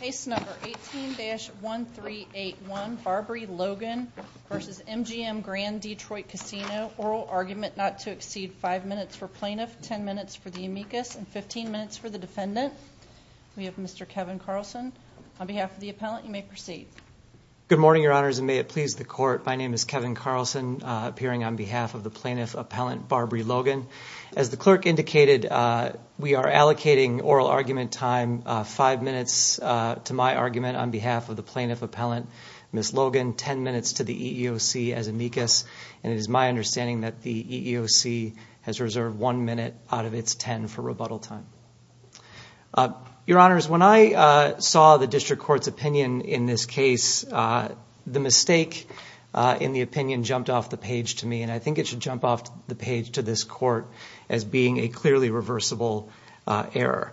Case number 18-1381, Barbrie Logan v. MGM Grand Detroit Casino. Oral argument not to exceed 5 minutes for plaintiff, 10 minutes for the amicus, and 15 minutes for the defendant. We have Mr. Kevin Carlson. On behalf of the appellant, you may proceed. Good morning, your honors, and may it please the court. My name is Kevin Carlson, appearing on behalf of the plaintiff, appellant Barbrie Logan. As the clerk indicated, we are allocating oral argument time 5 minutes to my argument on behalf of the plaintiff, appellant Ms. Logan, 10 minutes to the EEOC as amicus, and it is my understanding that the EEOC has reserved 1 minute out of its 10 for rebuttal time. Your honors, when I saw the district court's opinion in this case, the mistake in the opinion jumped off the page to me, and I think it should jump off the page to this court as being a clearly reversible error.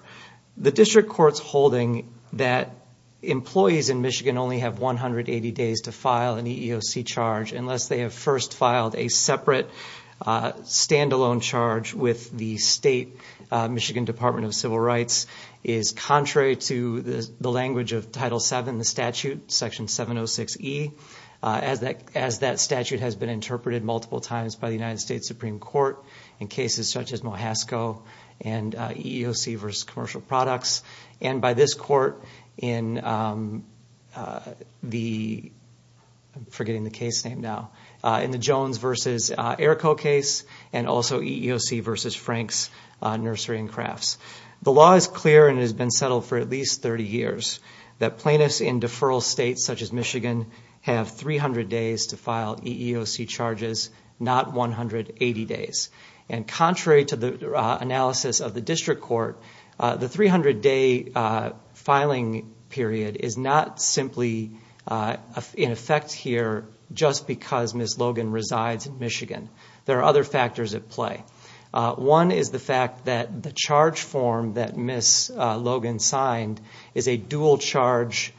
The district court's holding that employees in Michigan only have 180 days to file an EEOC charge unless they have first filed a separate, stand-alone charge with the state Michigan Department of Civil Rights is contrary to the language of Title VII, the statute, Section 706E, as that statute has been interpreted multiple times by the United States Supreme Court in cases such as Mohasco and EEOC v. Commercial Products, and by this court in the Jones v. Errico case, and also EEOC v. Frank's Nursery and Crafts. The law is clear and has been settled for at least 30 years that plaintiffs in deferral states such as Michigan have 300 days to file EEOC charges, not 180 days, and contrary to the analysis of the district court, the 300-day filing period is not simply in effect here just because Ms. Logan resides in Michigan. There are other factors at play. One is the fact that the charge form that Ms. Logan signed is a dual-charge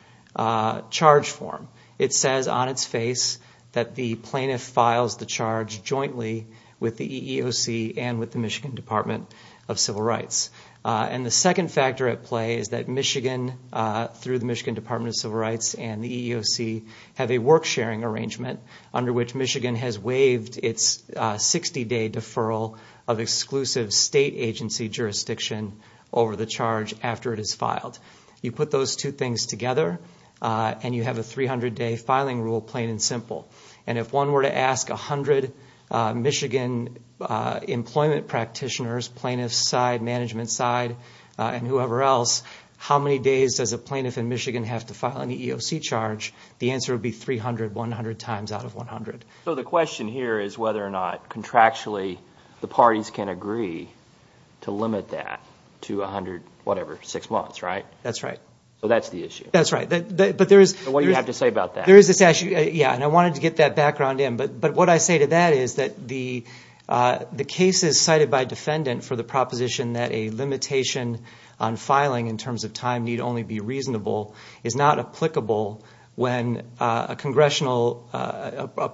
charge form. It says on its face that the plaintiff files the charge jointly with the EEOC and with the Michigan Department of Civil Rights. And the second factor at play is that Michigan, through the Michigan Department of Civil Rights and the EEOC, have a work-sharing arrangement under which Michigan has waived its 60-day deferral of exclusive state agency jurisdiction over the charge after it is filed. You put those two things together, and you have a 300-day filing rule, plain and simple. And if one were to ask 100 Michigan employment practitioners, plaintiff side, management side, and whoever else, how many days does a plaintiff in Michigan have to file an EEOC charge, the answer would be 300, 100 times out of 100. So the question here is whether or not contractually the parties can agree to limit that to 100, whatever, six months, right? That's right. So that's the issue? That's right. What do you have to say about that? There is a statute, yeah, and I wanted to get that background in. But what I say to that is that the cases cited by defendant for the proposition that a limitation on filing in terms of time need only be reasonable is not applicable when a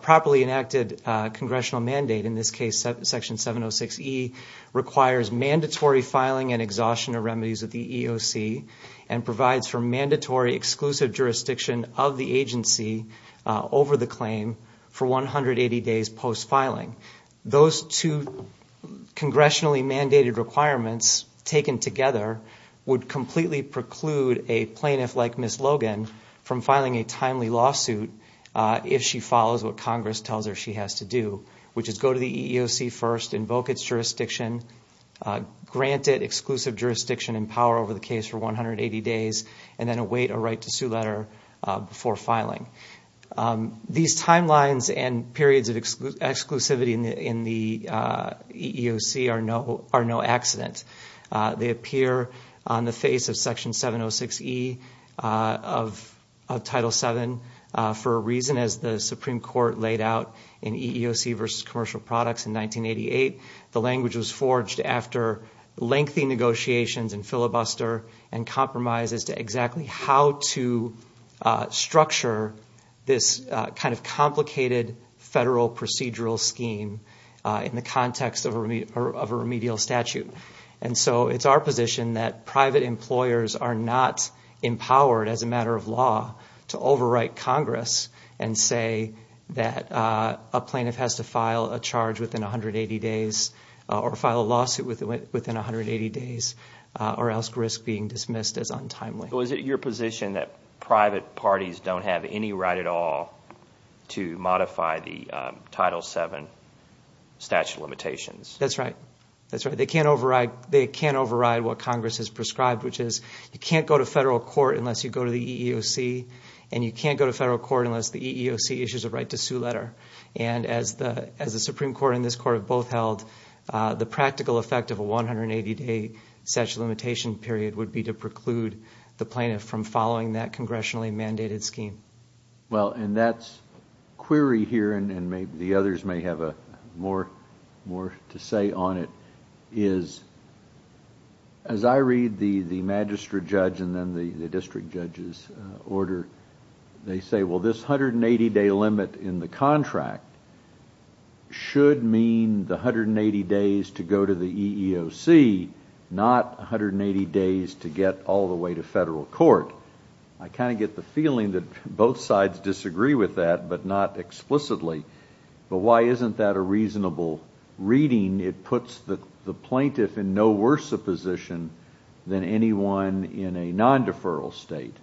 properly enacted congressional mandate, in this case Section 706E, requires mandatory filing and exhaustion of remedies of the EEOC and provides for mandatory exclusive jurisdiction of the agency over the claim for 180 days post-filing. Those two congressionally mandated requirements taken together would completely preclude a plaintiff like Ms. Logan from filing a timely lawsuit if she follows what Congress tells her she has to do, which is go to the EEOC first, invoke its jurisdiction, grant it exclusive jurisdiction and power over the case for 180 days, and then await a right to sue letter before filing. These timelines and periods of exclusivity in the EEOC are no accident. They appear on the face of Section 706E of Title VII for a reason. As the Supreme Court laid out in EEOC v. Commercial Products in 1988, the language was forged after lengthy negotiations and filibuster and compromises to exactly how to structure this kind of complicated federal procedural scheme in the context of a remedial statute. And so it's our position that private employers are not empowered, as a matter of law, to overwrite Congress and say that a plaintiff has to file a charge within 180 days or file a lawsuit within 180 days or else risk being dismissed as untimely. So is it your position that private parties don't have any right at all to modify the Title VII statute of limitations? That's right. That's right. They can't override what Congress has prescribed, which is you can't go to federal court unless you go to the EEOC, and you can't go to federal court unless the EEOC issues a right to sue letter. And as the Supreme Court and this Court have both held, the practical effect of a 180-day statute of limitation period would be to preclude the plaintiff from following that congressionally mandated scheme. Well, and that's query here, and the others may have more to say on it, is as I read the magistrate judge and then the district judge's order, they say, well, this 180-day limit in the contract should mean the 180 days to go to the EEOC, not 180 days to get all the way to federal court. I kind of get the feeling that both sides disagree with that, but not explicitly. But why isn't that a reasonable reading? It puts the plaintiff in no worse a position than anyone in a non-deferral state.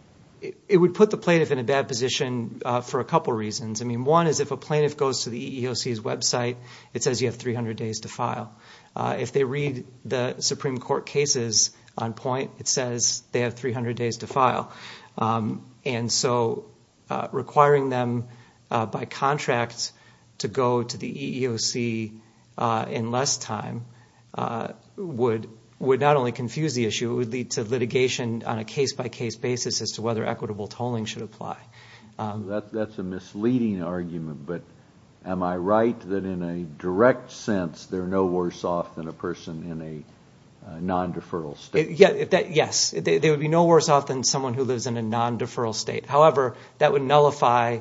It would put the plaintiff in a bad position for a couple reasons. I mean, one is if a plaintiff goes to the EEOC's website, it says you have 300 days to file. If they read the Supreme Court cases on point, it says they have 300 days to file. And so requiring them by contract to go to the EEOC in less time would not only confuse the issue, it would lead to litigation on a case-by-case basis as to whether equitable tolling should apply. That's a misleading argument, but am I right that in a direct sense, they're no worse off than a person in a non-deferral state? Yes, they would be no worse off than someone who lives in a non-deferral state. However, that would nullify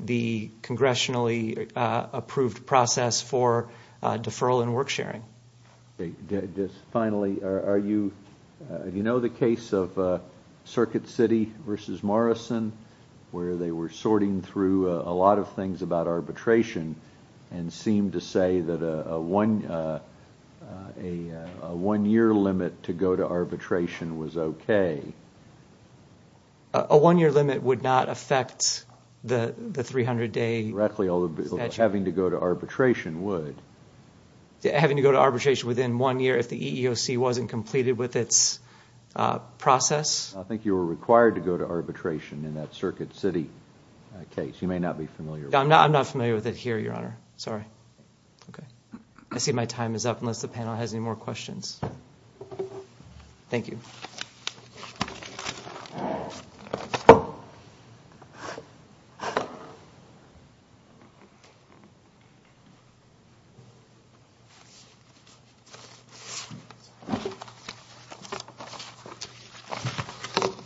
the congressionally approved process for deferral and work sharing. Finally, do you know the case of Circuit City v. Morrison, where they were sorting through a lot of things about arbitration and seemed to say that a one-year limit to go to arbitration was okay? A one-year limit would not affect the 300-day statute. Having to go to arbitration within one year if the EEOC wasn't completed with its process? I think you were required to go to arbitration in that Circuit City case. You may not be familiar with that. I'm not familiar with it here, Your Honor. Sorry. I see my time is up unless the panel has any more questions. Thank you. Jennifer Goldstein, Counsel for the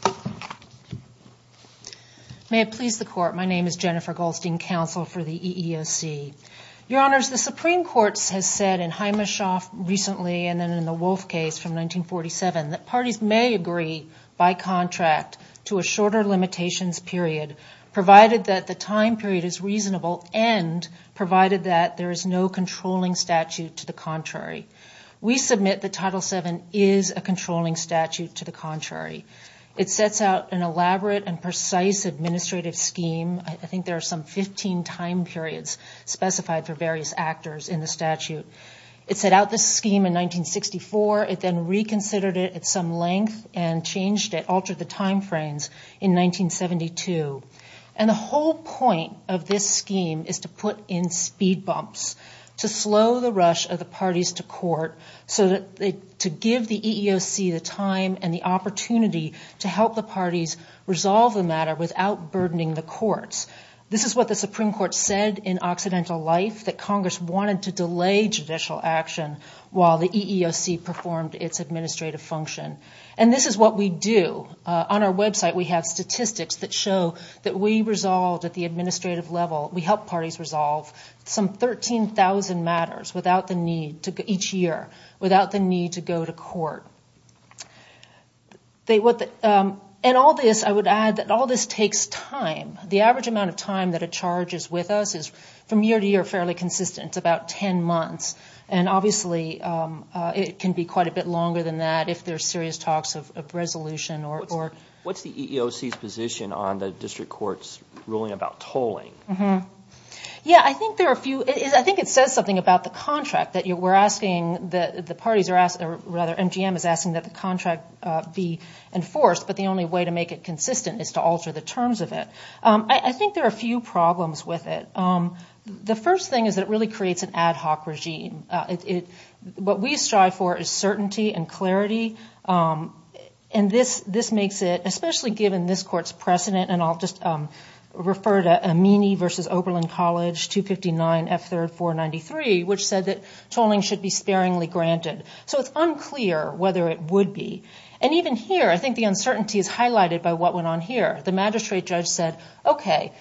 EEOC May it please the Court, my name is Jennifer Goldstein, Counsel for the EEOC. Your Honors, the Supreme Court has said in Hymashof recently and then in the Wolf case from 1947 that parties may agree by contract to a shorter limitations period, provided that the time period is reasonable and provided that there is no controlling statute to the contrary. We submit that Title VII is a controlling statute to the contrary. It sets out an elaborate and precise administrative scheme. I think there are some 15 time periods specified for various actors in the statute. It set out this scheme in 1964. It then reconsidered it at some length and changed it, altered the time frames in 1972. And the whole point of this scheme is to put in speed bumps, to slow the rush of the parties to court so that to give the EEOC the time and the opportunity to help the parties resolve the matter without burdening the courts. This is what the Supreme Court said in Occidental Life, that Congress wanted to delay judicial action while the EEOC performed its administrative function. And this is what we do. On our website we have statistics that show that we resolve at the administrative level, we help parties resolve some 13,000 matters each year without the need to go to court. And I would add that all this takes time. The average amount of time that a charge is with us is from year to year fairly consistent. It's about 10 months. And obviously it can be quite a bit longer than that if there are serious talks of resolution. What's the EEOC's position on the district court's ruling about tolling? Yeah, I think there are a few. I think it says something about the contract that we're asking, the parties are asking, or rather MGM is asking that the contract be enforced, but the only way to make it consistent is to alter the terms of it. I think there are a few problems with it. The first thing is that it really creates an ad hoc regime. What we strive for is certainty and clarity. And this makes it, especially given this court's precedent, and I'll just refer to Amini v. Oberlin College 259 F. 3rd 493, which said that tolling should be sparingly granted. So it's unclear whether it would be. And even here, I think the uncertainty is highlighted by what went on here. The magistrate judge said, okay,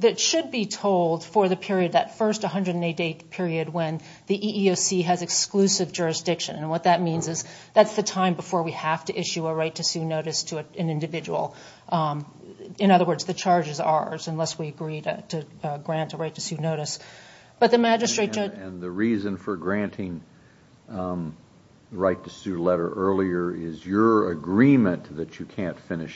that should be tolled for the period, that first 188th period, when the EEOC has exclusive jurisdiction. And what that means is that's the time before we have to issue a right to sue notice to an individual. In other words, the charge is ours unless we agree to grant a right to sue notice. But the magistrate judge... that you can't finish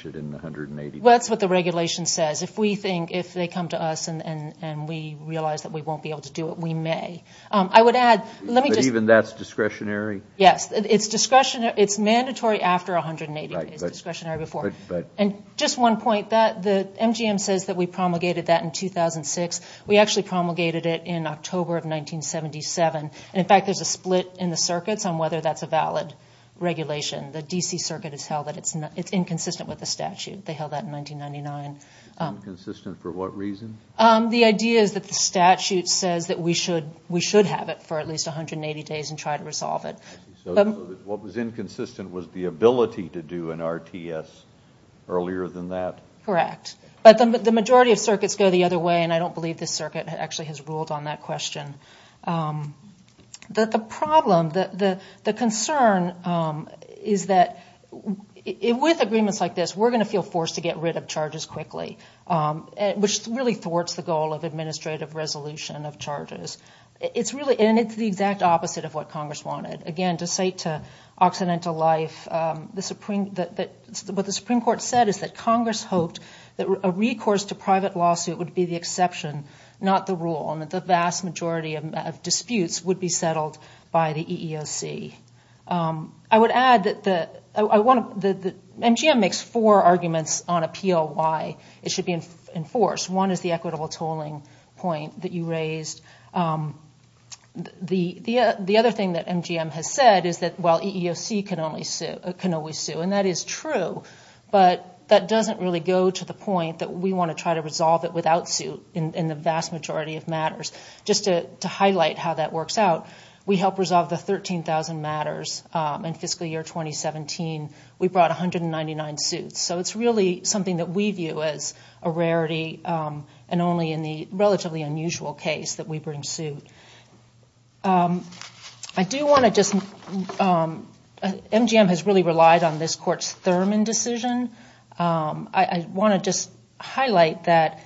it in the 180 days. Well, that's what the regulation says. If we think, if they come to us and we realize that we won't be able to do it, we may. I would add, let me just... But even that's discretionary? Yes. It's discretionary. It's mandatory after 180 days. It's discretionary before. And just one point. The MGM says that we promulgated that in 2006. We actually promulgated it in October of 1977. And, in fact, there's a split in the circuits on whether that's a valid regulation. The D.C. Circuit has held that it's inconsistent with the statute. They held that in 1999. Inconsistent for what reason? The idea is that the statute says that we should have it for at least 180 days and try to resolve it. So what was inconsistent was the ability to do an RTS earlier than that? Correct. But the majority of circuits go the other way, and I don't believe this circuit actually has ruled on that question. The problem, the concern is that with agreements like this, we're going to feel forced to get rid of charges quickly, which really thwarts the goal of administrative resolution of charges. And it's the exact opposite of what Congress wanted. Again, to say to Occidental Life, what the Supreme Court said is that Congress hoped that a recourse to private lawsuit would be the exception, not the rule, and that the vast majority of disputes would be settled by the EEOC. I would add that MGM makes four arguments on appeal why it should be enforced. One is the equitable tolling point that you raised. The other thing that MGM has said is that, well, EEOC can only sue, and that is true, but that doesn't really go to the point that we want to try to resolve it without suit in the vast majority of matters. Just to highlight how that works out, we helped resolve the 13,000 matters in fiscal year 2017. We brought 199 suits. So it's really something that we view as a rarity, and only in the relatively unusual case that we bring suit. MGM has really relied on this Court's Thurman decision. I want to just highlight that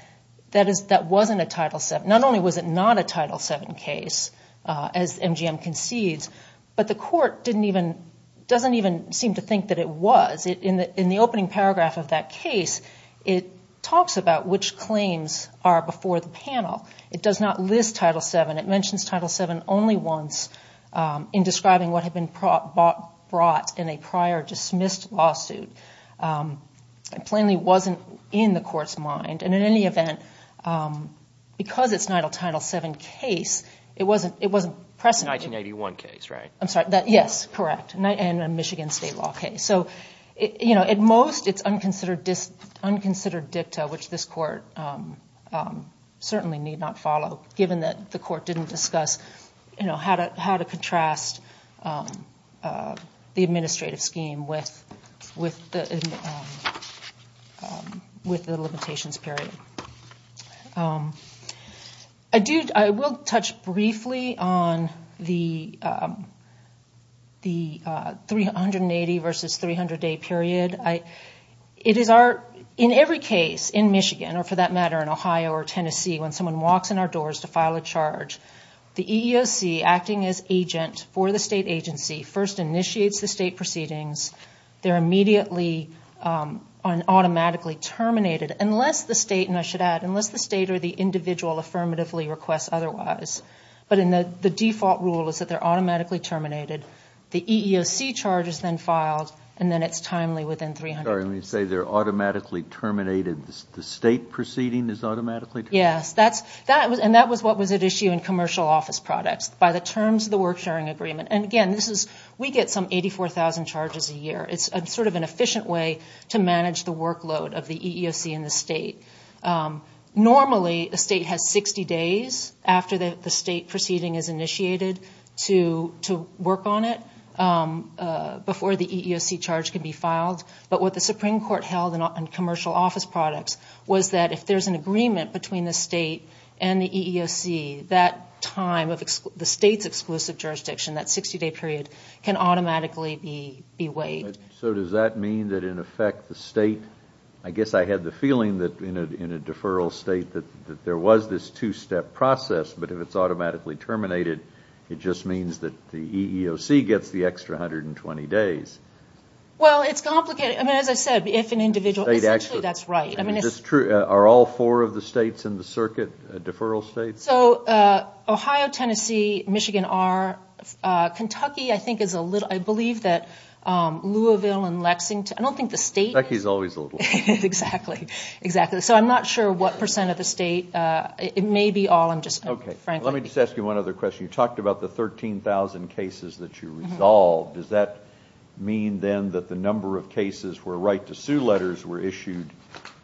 that wasn't a Title VII. Not only was it not a Title VII case, as MGM concedes, but the Court doesn't even seem to think that it was. In the opening paragraph of that case, it talks about which claims are before the panel. It does not list Title VII. It mentions Title VII only once in describing what had been brought in a prior dismissed lawsuit. It plainly wasn't in the Court's mind, and in any event, because it's not a Title VII case, it wasn't present. It was a 1981 case, right? I'm sorry. Yes, correct, and a Michigan State law case. At most, it's unconsidered dicta, which this Court certainly need not follow, given that the Court didn't discuss how to contrast the administrative scheme with the limitations period. I will touch briefly on the 380 versus 300-day period. In every case in Michigan, or for that matter in Ohio or Tennessee, when someone walks in our doors to file a charge, the EEOC, acting as agent for the state agency, first initiates the state proceedings. They're immediately automatically terminated unless the state, and I should add, unless the state or the individual affirmatively requests otherwise. But the default rule is that they're automatically terminated. The EEOC charge is then filed, and then it's timely within 300 days. Sorry, when you say they're automatically terminated, the state proceeding is automatically terminated? Yes, and that was what was at issue in commercial office products by the terms of the work-sharing agreement. Again, we get some 84,000 charges a year. It's sort of an efficient way to manage the workload of the EEOC and the state. Normally, the state has 60 days after the state proceeding is initiated to work on it before the EEOC charge can be filed. But what the Supreme Court held in commercial office products was that if there's an agreement between the state and the EEOC, that time of the state's exclusive jurisdiction, that 60-day period, can automatically be waived. So does that mean that in effect the state, I guess I had the feeling that in a deferral state, that there was this two-step process, but if it's automatically terminated, it just means that the EEOC gets the extra 120 days? Well, it's complicated. I mean, as I said, if an individual, essentially that's right. Are all four of the states in the circuit deferral states? So Ohio, Tennessee, Michigan are. Kentucky, I think, is a little. I believe that Louisville and Lexington. I don't think the state is. Kentucky is always a little. Exactly. Exactly. So I'm not sure what percent of the state. It may be all. I'm just frankly. Let me just ask you one other question. You talked about the 13,000 cases that you resolved. Does that mean then that the number of cases where right-to-sue letters were issued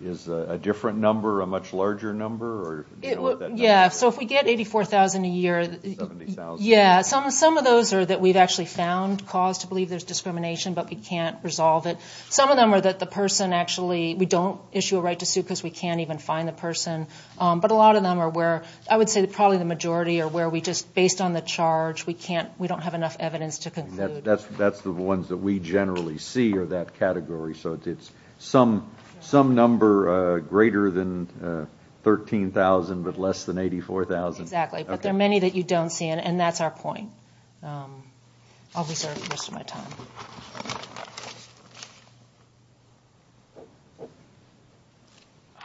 is a different number, a much larger number? Yeah. So if we get 84,000 a year. 70,000. Yeah. Some of those are that we've actually found cause to believe there's discrimination, but we can't resolve it. Some of them are that the person actually, we don't issue a right-to-sue because we can't even find the person. But a lot of them are where I would say probably the majority are where we just, based on the charge, we don't have enough evidence to conclude. That's the ones that we generally see are that category. So it's some number greater than 13,000 but less than 84,000. Exactly. But there are many that you don't see, and that's our point. I'll reserve the rest of my time. Thank you.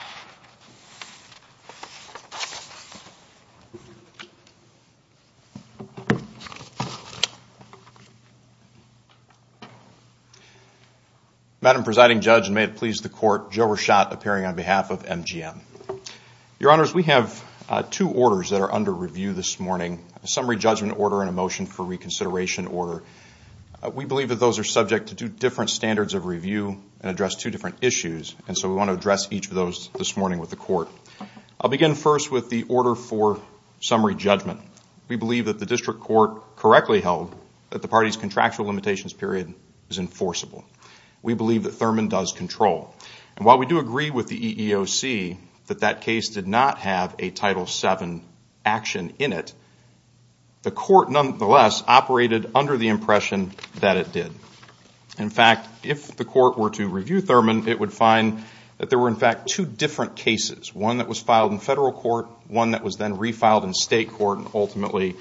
Madam Presiding Judge, and may it please the Court, Joe Rashad appearing on behalf of MGM. Your Honors, we have two orders that are under review this morning, a summary judgment order and a motion for reconsideration order. We believe that those are subject to two different standards of review and address two different issues, and so we want to address each of those this morning with the Court. I'll begin first with the order for summary judgment. We believe that the district court correctly held that the party's contractual limitations period is enforceable. We believe that Thurman does control. And while we do agree with the EEOC that that case did not have a Title VII action in it, the Court nonetheless operated under the impression that it did. In fact, if the Court were to review Thurman, it would find that there were in fact two different cases, one that was filed in federal court, one that was then refiled in state court, and ultimately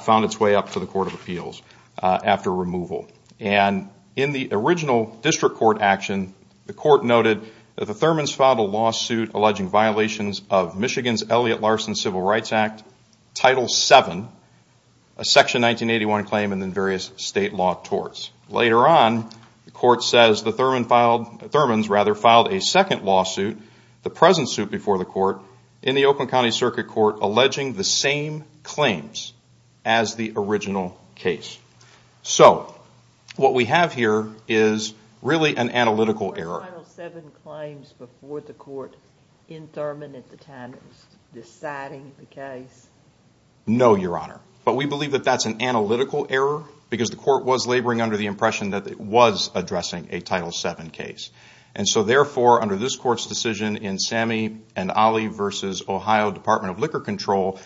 found its way up to the Court of Appeals after removal. And in the original district court action, the Court noted that the Thurmans filed a lawsuit alleging violations of Michigan's Elliot Larson Civil Rights Act, Title VII, a Section 1981 claim, and then various state law torts. Later on, the Court says the Thurmans filed a second lawsuit, the present suit before the Court, in the Oakland County Circuit Court, alleging the same claims as the original case. So what we have here is really an analytical error. Were there Title VII claims before the Court in Thurman at the time of deciding the case? No, Your Honor. But we believe that that's an analytical error because the Court was laboring under the impression that it was addressing a Title VII case. And so therefore, under this Court's decision in Sammy and Ollie v. Ohio Department of Liquor Control,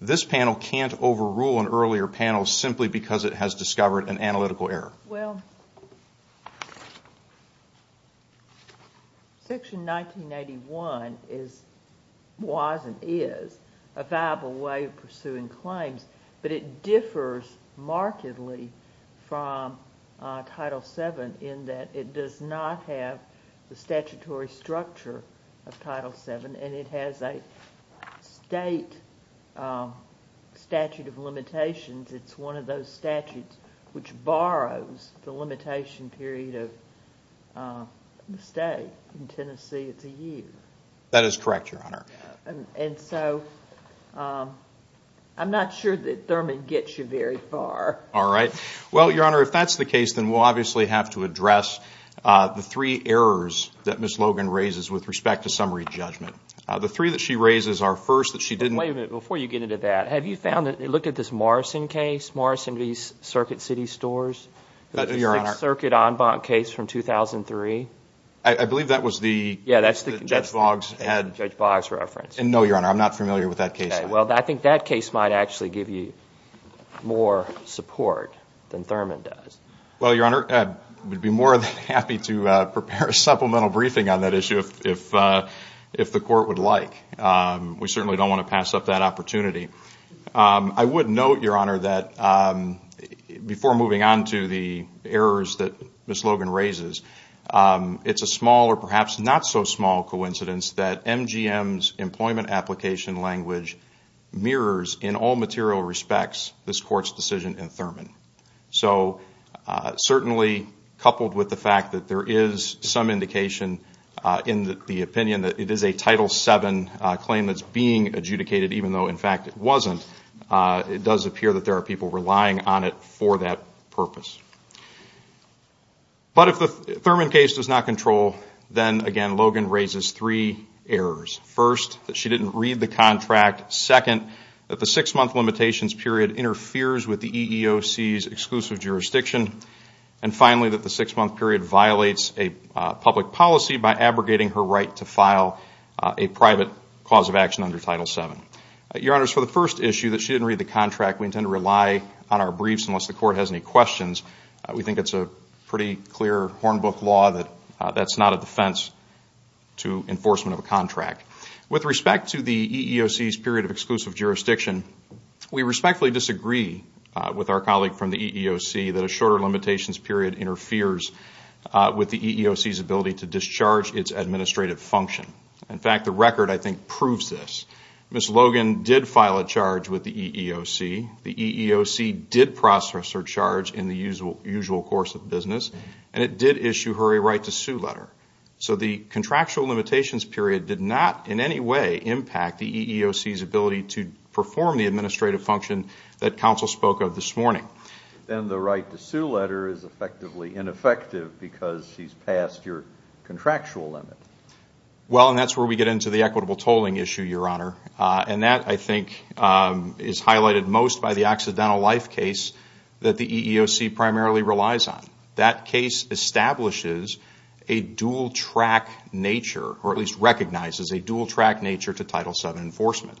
this panel can't overrule an earlier panel simply because it has discovered an analytical error. Well, Section 1981 was and is a viable way of pursuing claims, but it differs markedly from Title VII in that it does not have the statutory structure of Title VII, and it has a state statute of limitations. It's one of those statutes which borrows the limitation period of the state. In Tennessee, it's a year. That is correct, Your Honor. And so I'm not sure that Thurman gets you very far. All right. Well, Your Honor, if that's the case, then we'll obviously have to address the three errors that Ms. Logan raises with respect to summary judgment. The three that she raises are, first, that she didn't – Wait a minute before you get into that. Have you found that – look at this Morrison case, Morrison v. Circuit City Stores. Your Honor. The Sixth Circuit en banc case from 2003. I believe that was the – Yeah, that's the – Judge Boggs had – Judge Boggs reference. No, Your Honor. I'm not familiar with that case. Well, I think that case might actually give you more support than Thurman does. Well, Your Honor, I would be more than happy to prepare a supplemental briefing on that issue if the Court would like. We certainly don't want to pass up that opportunity. I would note, Your Honor, that before moving on to the errors that Ms. Logan raises, it's a small or perhaps not so small coincidence that MGM's employment application language mirrors in all material respects this Court's decision in Thurman. So certainly coupled with the fact that there is some indication in the opinion that it is a Title VII claim that's being adjudicated, even though, in fact, it wasn't, it does appear that there are people relying on it for that purpose. But if the Thurman case does not control, then, again, Logan raises three errors. First, that she didn't read the contract. Second, that the six-month limitations period interferes with the EEOC's exclusive jurisdiction. And finally, that the six-month period violates a public policy by abrogating her right to file a private cause of action under Title VII. Your Honors, for the first issue, that she didn't read the contract, we intend to rely on our briefs unless the Court has any questions. We think it's a pretty clear hornbook law that that's not a defense to enforcement of a contract. With respect to the EEOC's period of exclusive jurisdiction, we respectfully disagree with our colleague from the EEOC that a shorter limitations period interferes with the EEOC's ability to discharge its administrative function. In fact, the record, I think, proves this. Ms. Logan did file a charge with the EEOC. The EEOC did process her charge in the usual course of business, and it did issue her a right to sue letter. So the contractual limitations period did not in any way impact the EEOC's ability to perform the administrative function that Counsel spoke of this morning. Then the right to sue letter is effectively ineffective because she's passed your contractual limit. Well, and that's where we get into the equitable tolling issue, Your Honor. And that, I think, is highlighted most by the accidental life case that the EEOC primarily relies on. That case establishes a dual-track nature, or at least recognizes a dual-track nature to Title VII enforcement.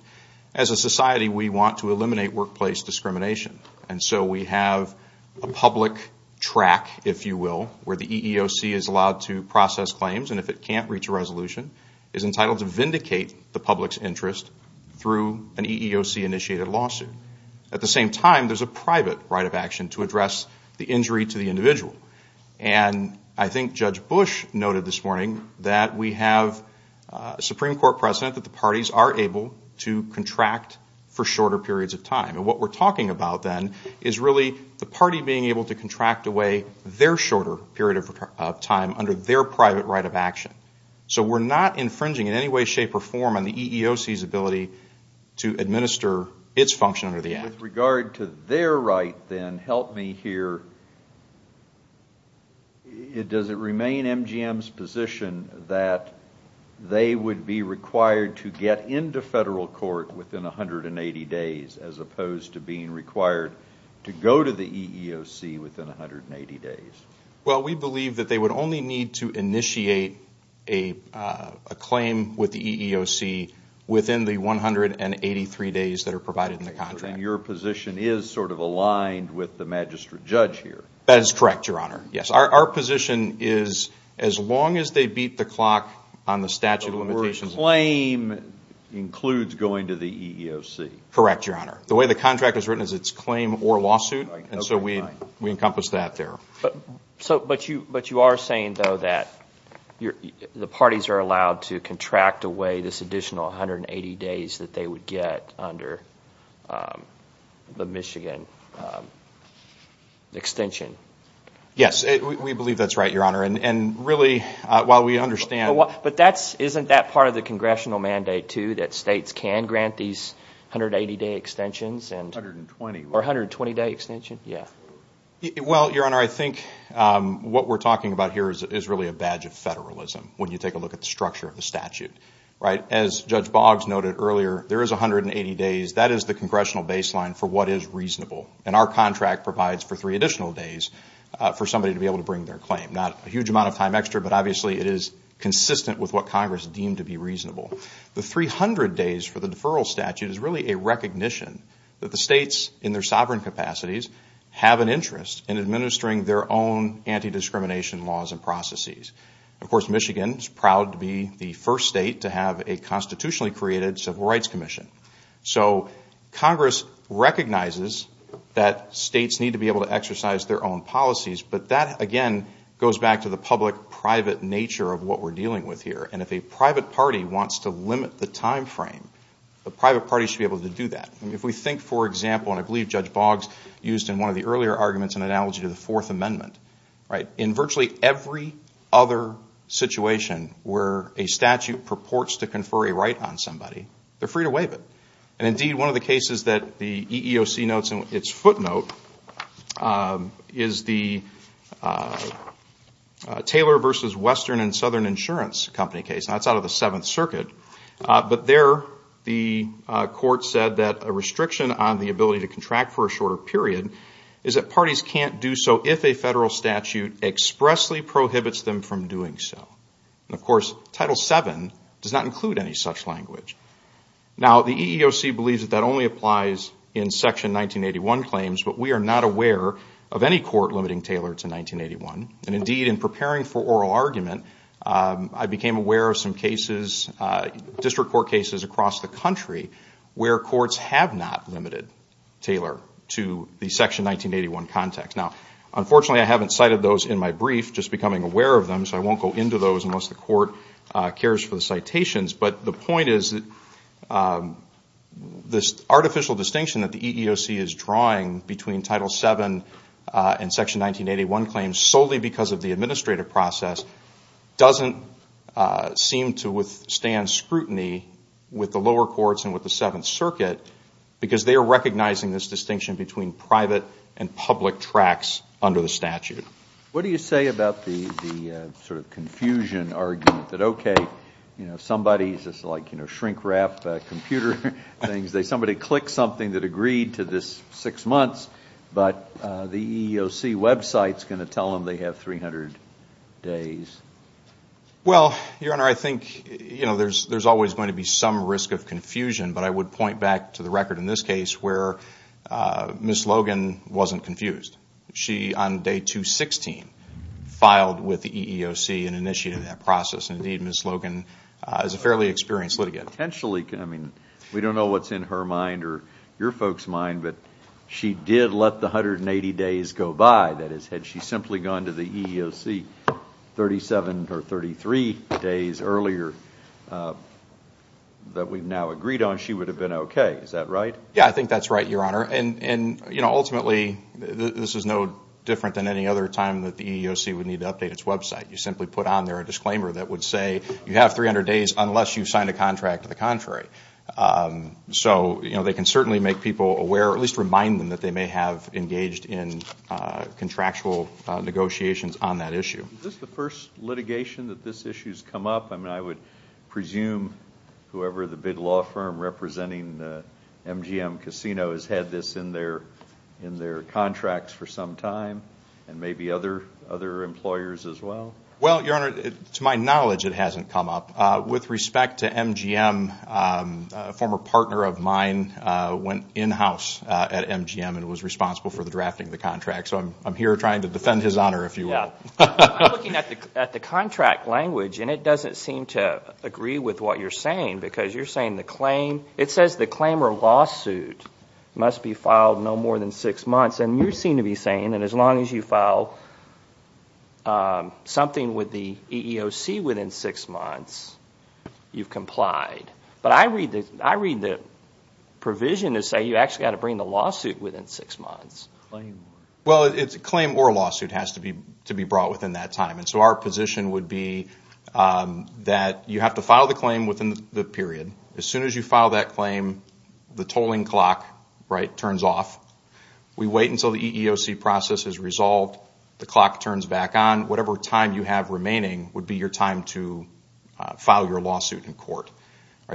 As a society, we want to eliminate workplace discrimination, and so we have a public track, if you will, where the EEOC is allowed to process claims, and if it can't reach a resolution, is entitled to vindicate the public's interest through an EEOC-initiated lawsuit. At the same time, there's a private right of action to address the injury to the individual. And I think Judge Bush noted this morning that we have a Supreme Court precedent that the parties are able to contract for shorter periods of time. And what we're talking about then is really the party being able to contract away their shorter period of time under their private right of action. So we're not infringing in any way, shape, or form on the EEOC's ability to administer its function under the Act. With regard to their right, then, help me here. Does it remain MGM's position that they would be required to get into federal court within 180 days, as opposed to being required to go to the EEOC within 180 days? Well, we believe that they would only need to initiate a claim with the EEOC within the 183 days that are provided in the contract. And your position is sort of aligned with the magistrate judge here. That is correct, Your Honor. Yes. Our position is as long as they beat the clock on the statute of limitations. The word claim includes going to the EEOC. Correct, Your Honor. The way the contract is written is it's claim or lawsuit, and so we encompass that there. But you are saying, though, that the parties are allowed to contract away this additional 180 days that they would get under the Michigan extension? Yes, we believe that's right, Your Honor. And really, while we understand – But isn't that part of the congressional mandate, too, that states can grant these 180-day extensions? 120. Or 120-day extension, yeah. Well, Your Honor, I think what we're talking about here is really a badge of federalism when you take a look at the structure of the statute. As Judge Boggs noted earlier, there is 180 days. That is the congressional baseline for what is reasonable. And our contract provides for three additional days for somebody to be able to bring their claim. Not a huge amount of time extra, but obviously it is consistent with what Congress deemed to be reasonable. The 300 days for the deferral statute is really a recognition that the states, in their sovereign capacities, have an interest in administering their own anti-discrimination laws and processes. Of course, Michigan is proud to be the first state to have a constitutionally created Civil Rights Commission. So Congress recognizes that states need to be able to exercise their own policies, but that, again, goes back to the public-private nature of what we're dealing with here. And if a private party wants to limit the time frame, the private party should be able to do that. If we think, for example, and I believe Judge Boggs used in one of the earlier arguments an analogy to the Fourth Amendment, in virtually every other situation where a statute purports to confer a right on somebody, they're free to waive it. Indeed, one of the cases that the EEOC notes in its footnote is the Taylor v. Western and Southern Insurance Company case. That's out of the Seventh Circuit. But there the court said that a restriction on the ability to contract for a shorter period is that parties can't do so if a federal statute expressly prohibits them from doing so. Of course, Title VII does not include any such language. Now, the EEOC believes that that only applies in Section 1981 claims, but we are not aware of any court limiting Taylor to 1981. And, indeed, in preparing for oral argument, I became aware of some cases, district court cases across the country, where courts have not limited Taylor to the Section 1981 context. Now, unfortunately, I haven't cited those in my brief, just becoming aware of them, so I won't go into those unless the court cares for the citations. But the point is that this artificial distinction that the EEOC is drawing between Title VII and Section 1981 claims, solely because of the administrative process, doesn't seem to withstand scrutiny with the lower courts and with the Seventh Circuit, because they are recognizing this distinction between private and public tracts under the statute. What do you say about the sort of confusion argument that, okay, somebody is just like shrink-wrap computer things. Somebody clicked something that agreed to this six months, but the EEOC website is going to tell them they have 300 days. Well, Your Honor, I think there is always going to be some risk of confusion, but I would point back to the record in this case where Ms. Logan wasn't confused. She, on day 216, filed with the EEOC and initiated that process. Indeed, Ms. Logan is a fairly experienced litigant. We don't know what's in her mind or your folks' mind, but she did let the 180 days go by. That is, had she simply gone to the EEOC 37 or 33 days earlier that we've now agreed on, she would have been okay. Is that right? Yeah, I think that's right, Your Honor. Ultimately, this is no different than any other time that the EEOC would need to update its website. You simply put on there a disclaimer that would say you have 300 days unless you've signed a contract to the contrary. So they can certainly make people aware or at least remind them that they may have engaged in contractual negotiations on that issue. Is this the first litigation that this issue has come up? I mean, I would presume whoever the big law firm representing the MGM Casino has had this in their contracts for some time and maybe other employers as well. Well, Your Honor, to my knowledge, it hasn't come up. With respect to MGM, a former partner of mine went in-house at MGM and was responsible for the drafting of the contract. So I'm here trying to defend his honor, if you will. I'm looking at the contract language and it doesn't seem to agree with what you're saying because you're saying the claim, it says the claim or lawsuit must be filed no more than six months. And you seem to be saying that as long as you file something with the EEOC within six months, you've complied. But I read the provision to say you actually have to bring the lawsuit within six months. Well, it's a claim or lawsuit has to be brought within that time. And so our position would be that you have to file the claim within the period. As soon as you file that claim, the tolling clock turns off. We wait until the EEOC process is resolved. The clock turns back on. Whatever time you have remaining would be your time to file your lawsuit in court.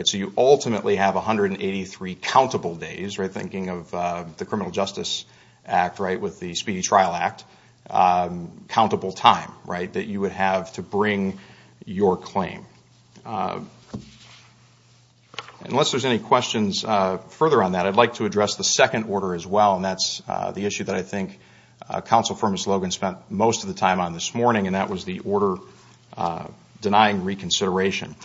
So you ultimately have 183 countable days, thinking of the Criminal Justice Act with the Speedy Trial Act, countable time that you would have to bring your claim. Unless there's any questions further on that, I'd like to address the second order as well, and that's the issue that I think Counsel Firmist Logan spent most of the time on this morning, and that was the order denying reconsideration.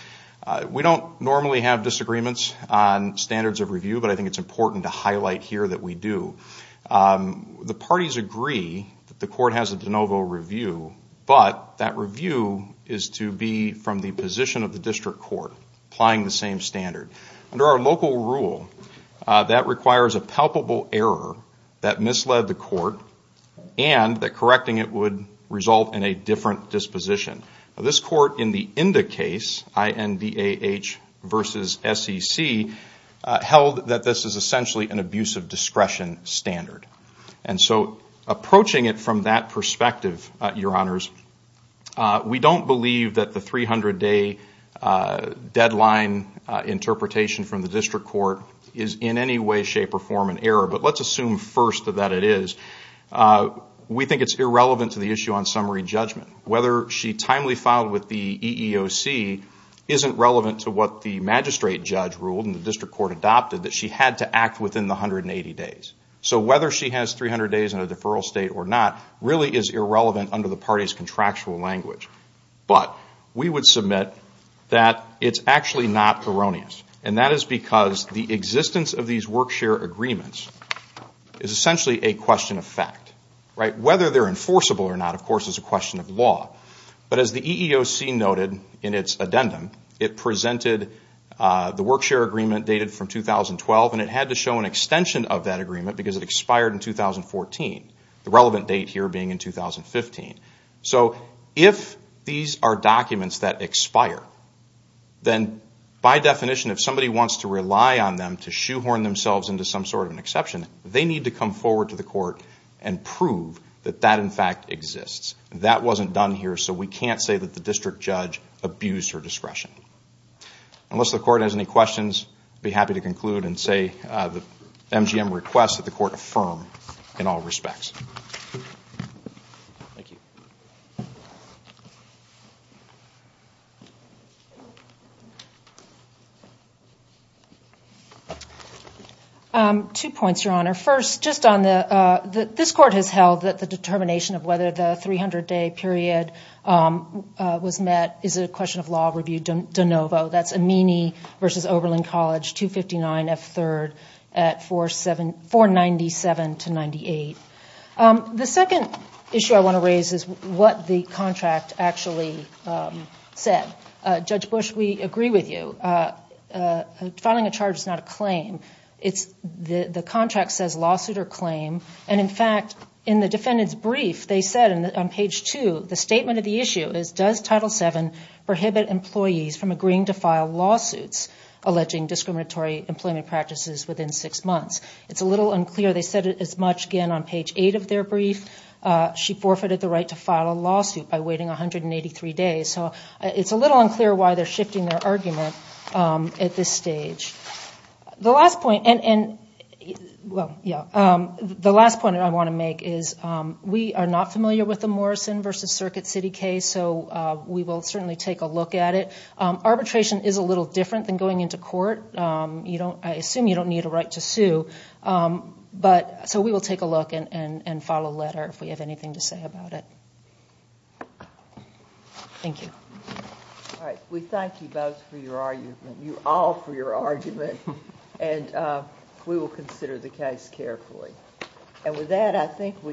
We don't normally have disagreements on standards of review, but I think it's important to highlight here that we do. The parties agree that the court has a de novo review, but that review is to be from the position of the district court applying the same standard. Under our local rule, that requires a palpable error that misled the court and that correcting it would result in a different disposition. This court in the INDA case, I-N-D-A-H versus S-E-C, held that this is essentially an abuse of discretion standard. And so approaching it from that perspective, Your Honors, we don't believe that the 300-day deadline interpretation from the district court is in any way, shape, or form an error, but let's assume first that it is. We think it's irrelevant to the issue on summary judgment. Whether she timely filed with the EEOC isn't relevant to what the magistrate judge ruled and the district court adopted, that she had to act within the 180 days. So whether she has 300 days in a deferral state or not really is irrelevant under the party's contractual language. But we would submit that it's actually not erroneous, and that is because the existence of these work-share agreements is essentially a question of fact. Whether they're enforceable or not, of course, is a question of law. But as the EEOC noted in its addendum, it presented the work-share agreement dated from 2012, and it had to show an extension of that agreement because it expired in 2014, the relevant date here being in 2015. So if these are documents that expire, then by definition, if somebody wants to rely on them to shoehorn themselves into some sort of an exception, they need to come forward to the court and prove that that, in fact, exists. That wasn't done here, so we can't say that the district judge abused her discretion. Unless the court has any questions, I'd be happy to conclude and say the MGM requests that the court affirm in all respects. Thank you. Two points, Your Honor. First, this court has held that the determination of whether the 300-day period was met is a question of law review de novo. That's Amini v. Oberlin College, 259F3rd at 497-98. The second issue I want to raise is what the contract actually said. Judge Bush, we agree with you. Filing a charge is not a claim. The contract says lawsuit or claim. And, in fact, in the defendant's brief, they said on page 2, the statement of the issue is, does Title VII prohibit employees from agreeing to file lawsuits alleging discriminatory employment practices within six months? It's a little unclear. They said it as much, again, on page 8 of their brief. She forfeited the right to file a lawsuit by waiting 183 days. So it's a little unclear why they're shifting their argument at this stage. The last point I want to make is we are not familiar with the Morrison v. Circuit City case, so we will certainly take a look at it. Arbitration is a little different than going into court. I assume you don't need a right to sue. So we will take a look and file a letter if we have anything to say about it. Thank you. All right. We thank you both for your argument. You all for your argument. And we will consider the case carefully. And with that, I think we have...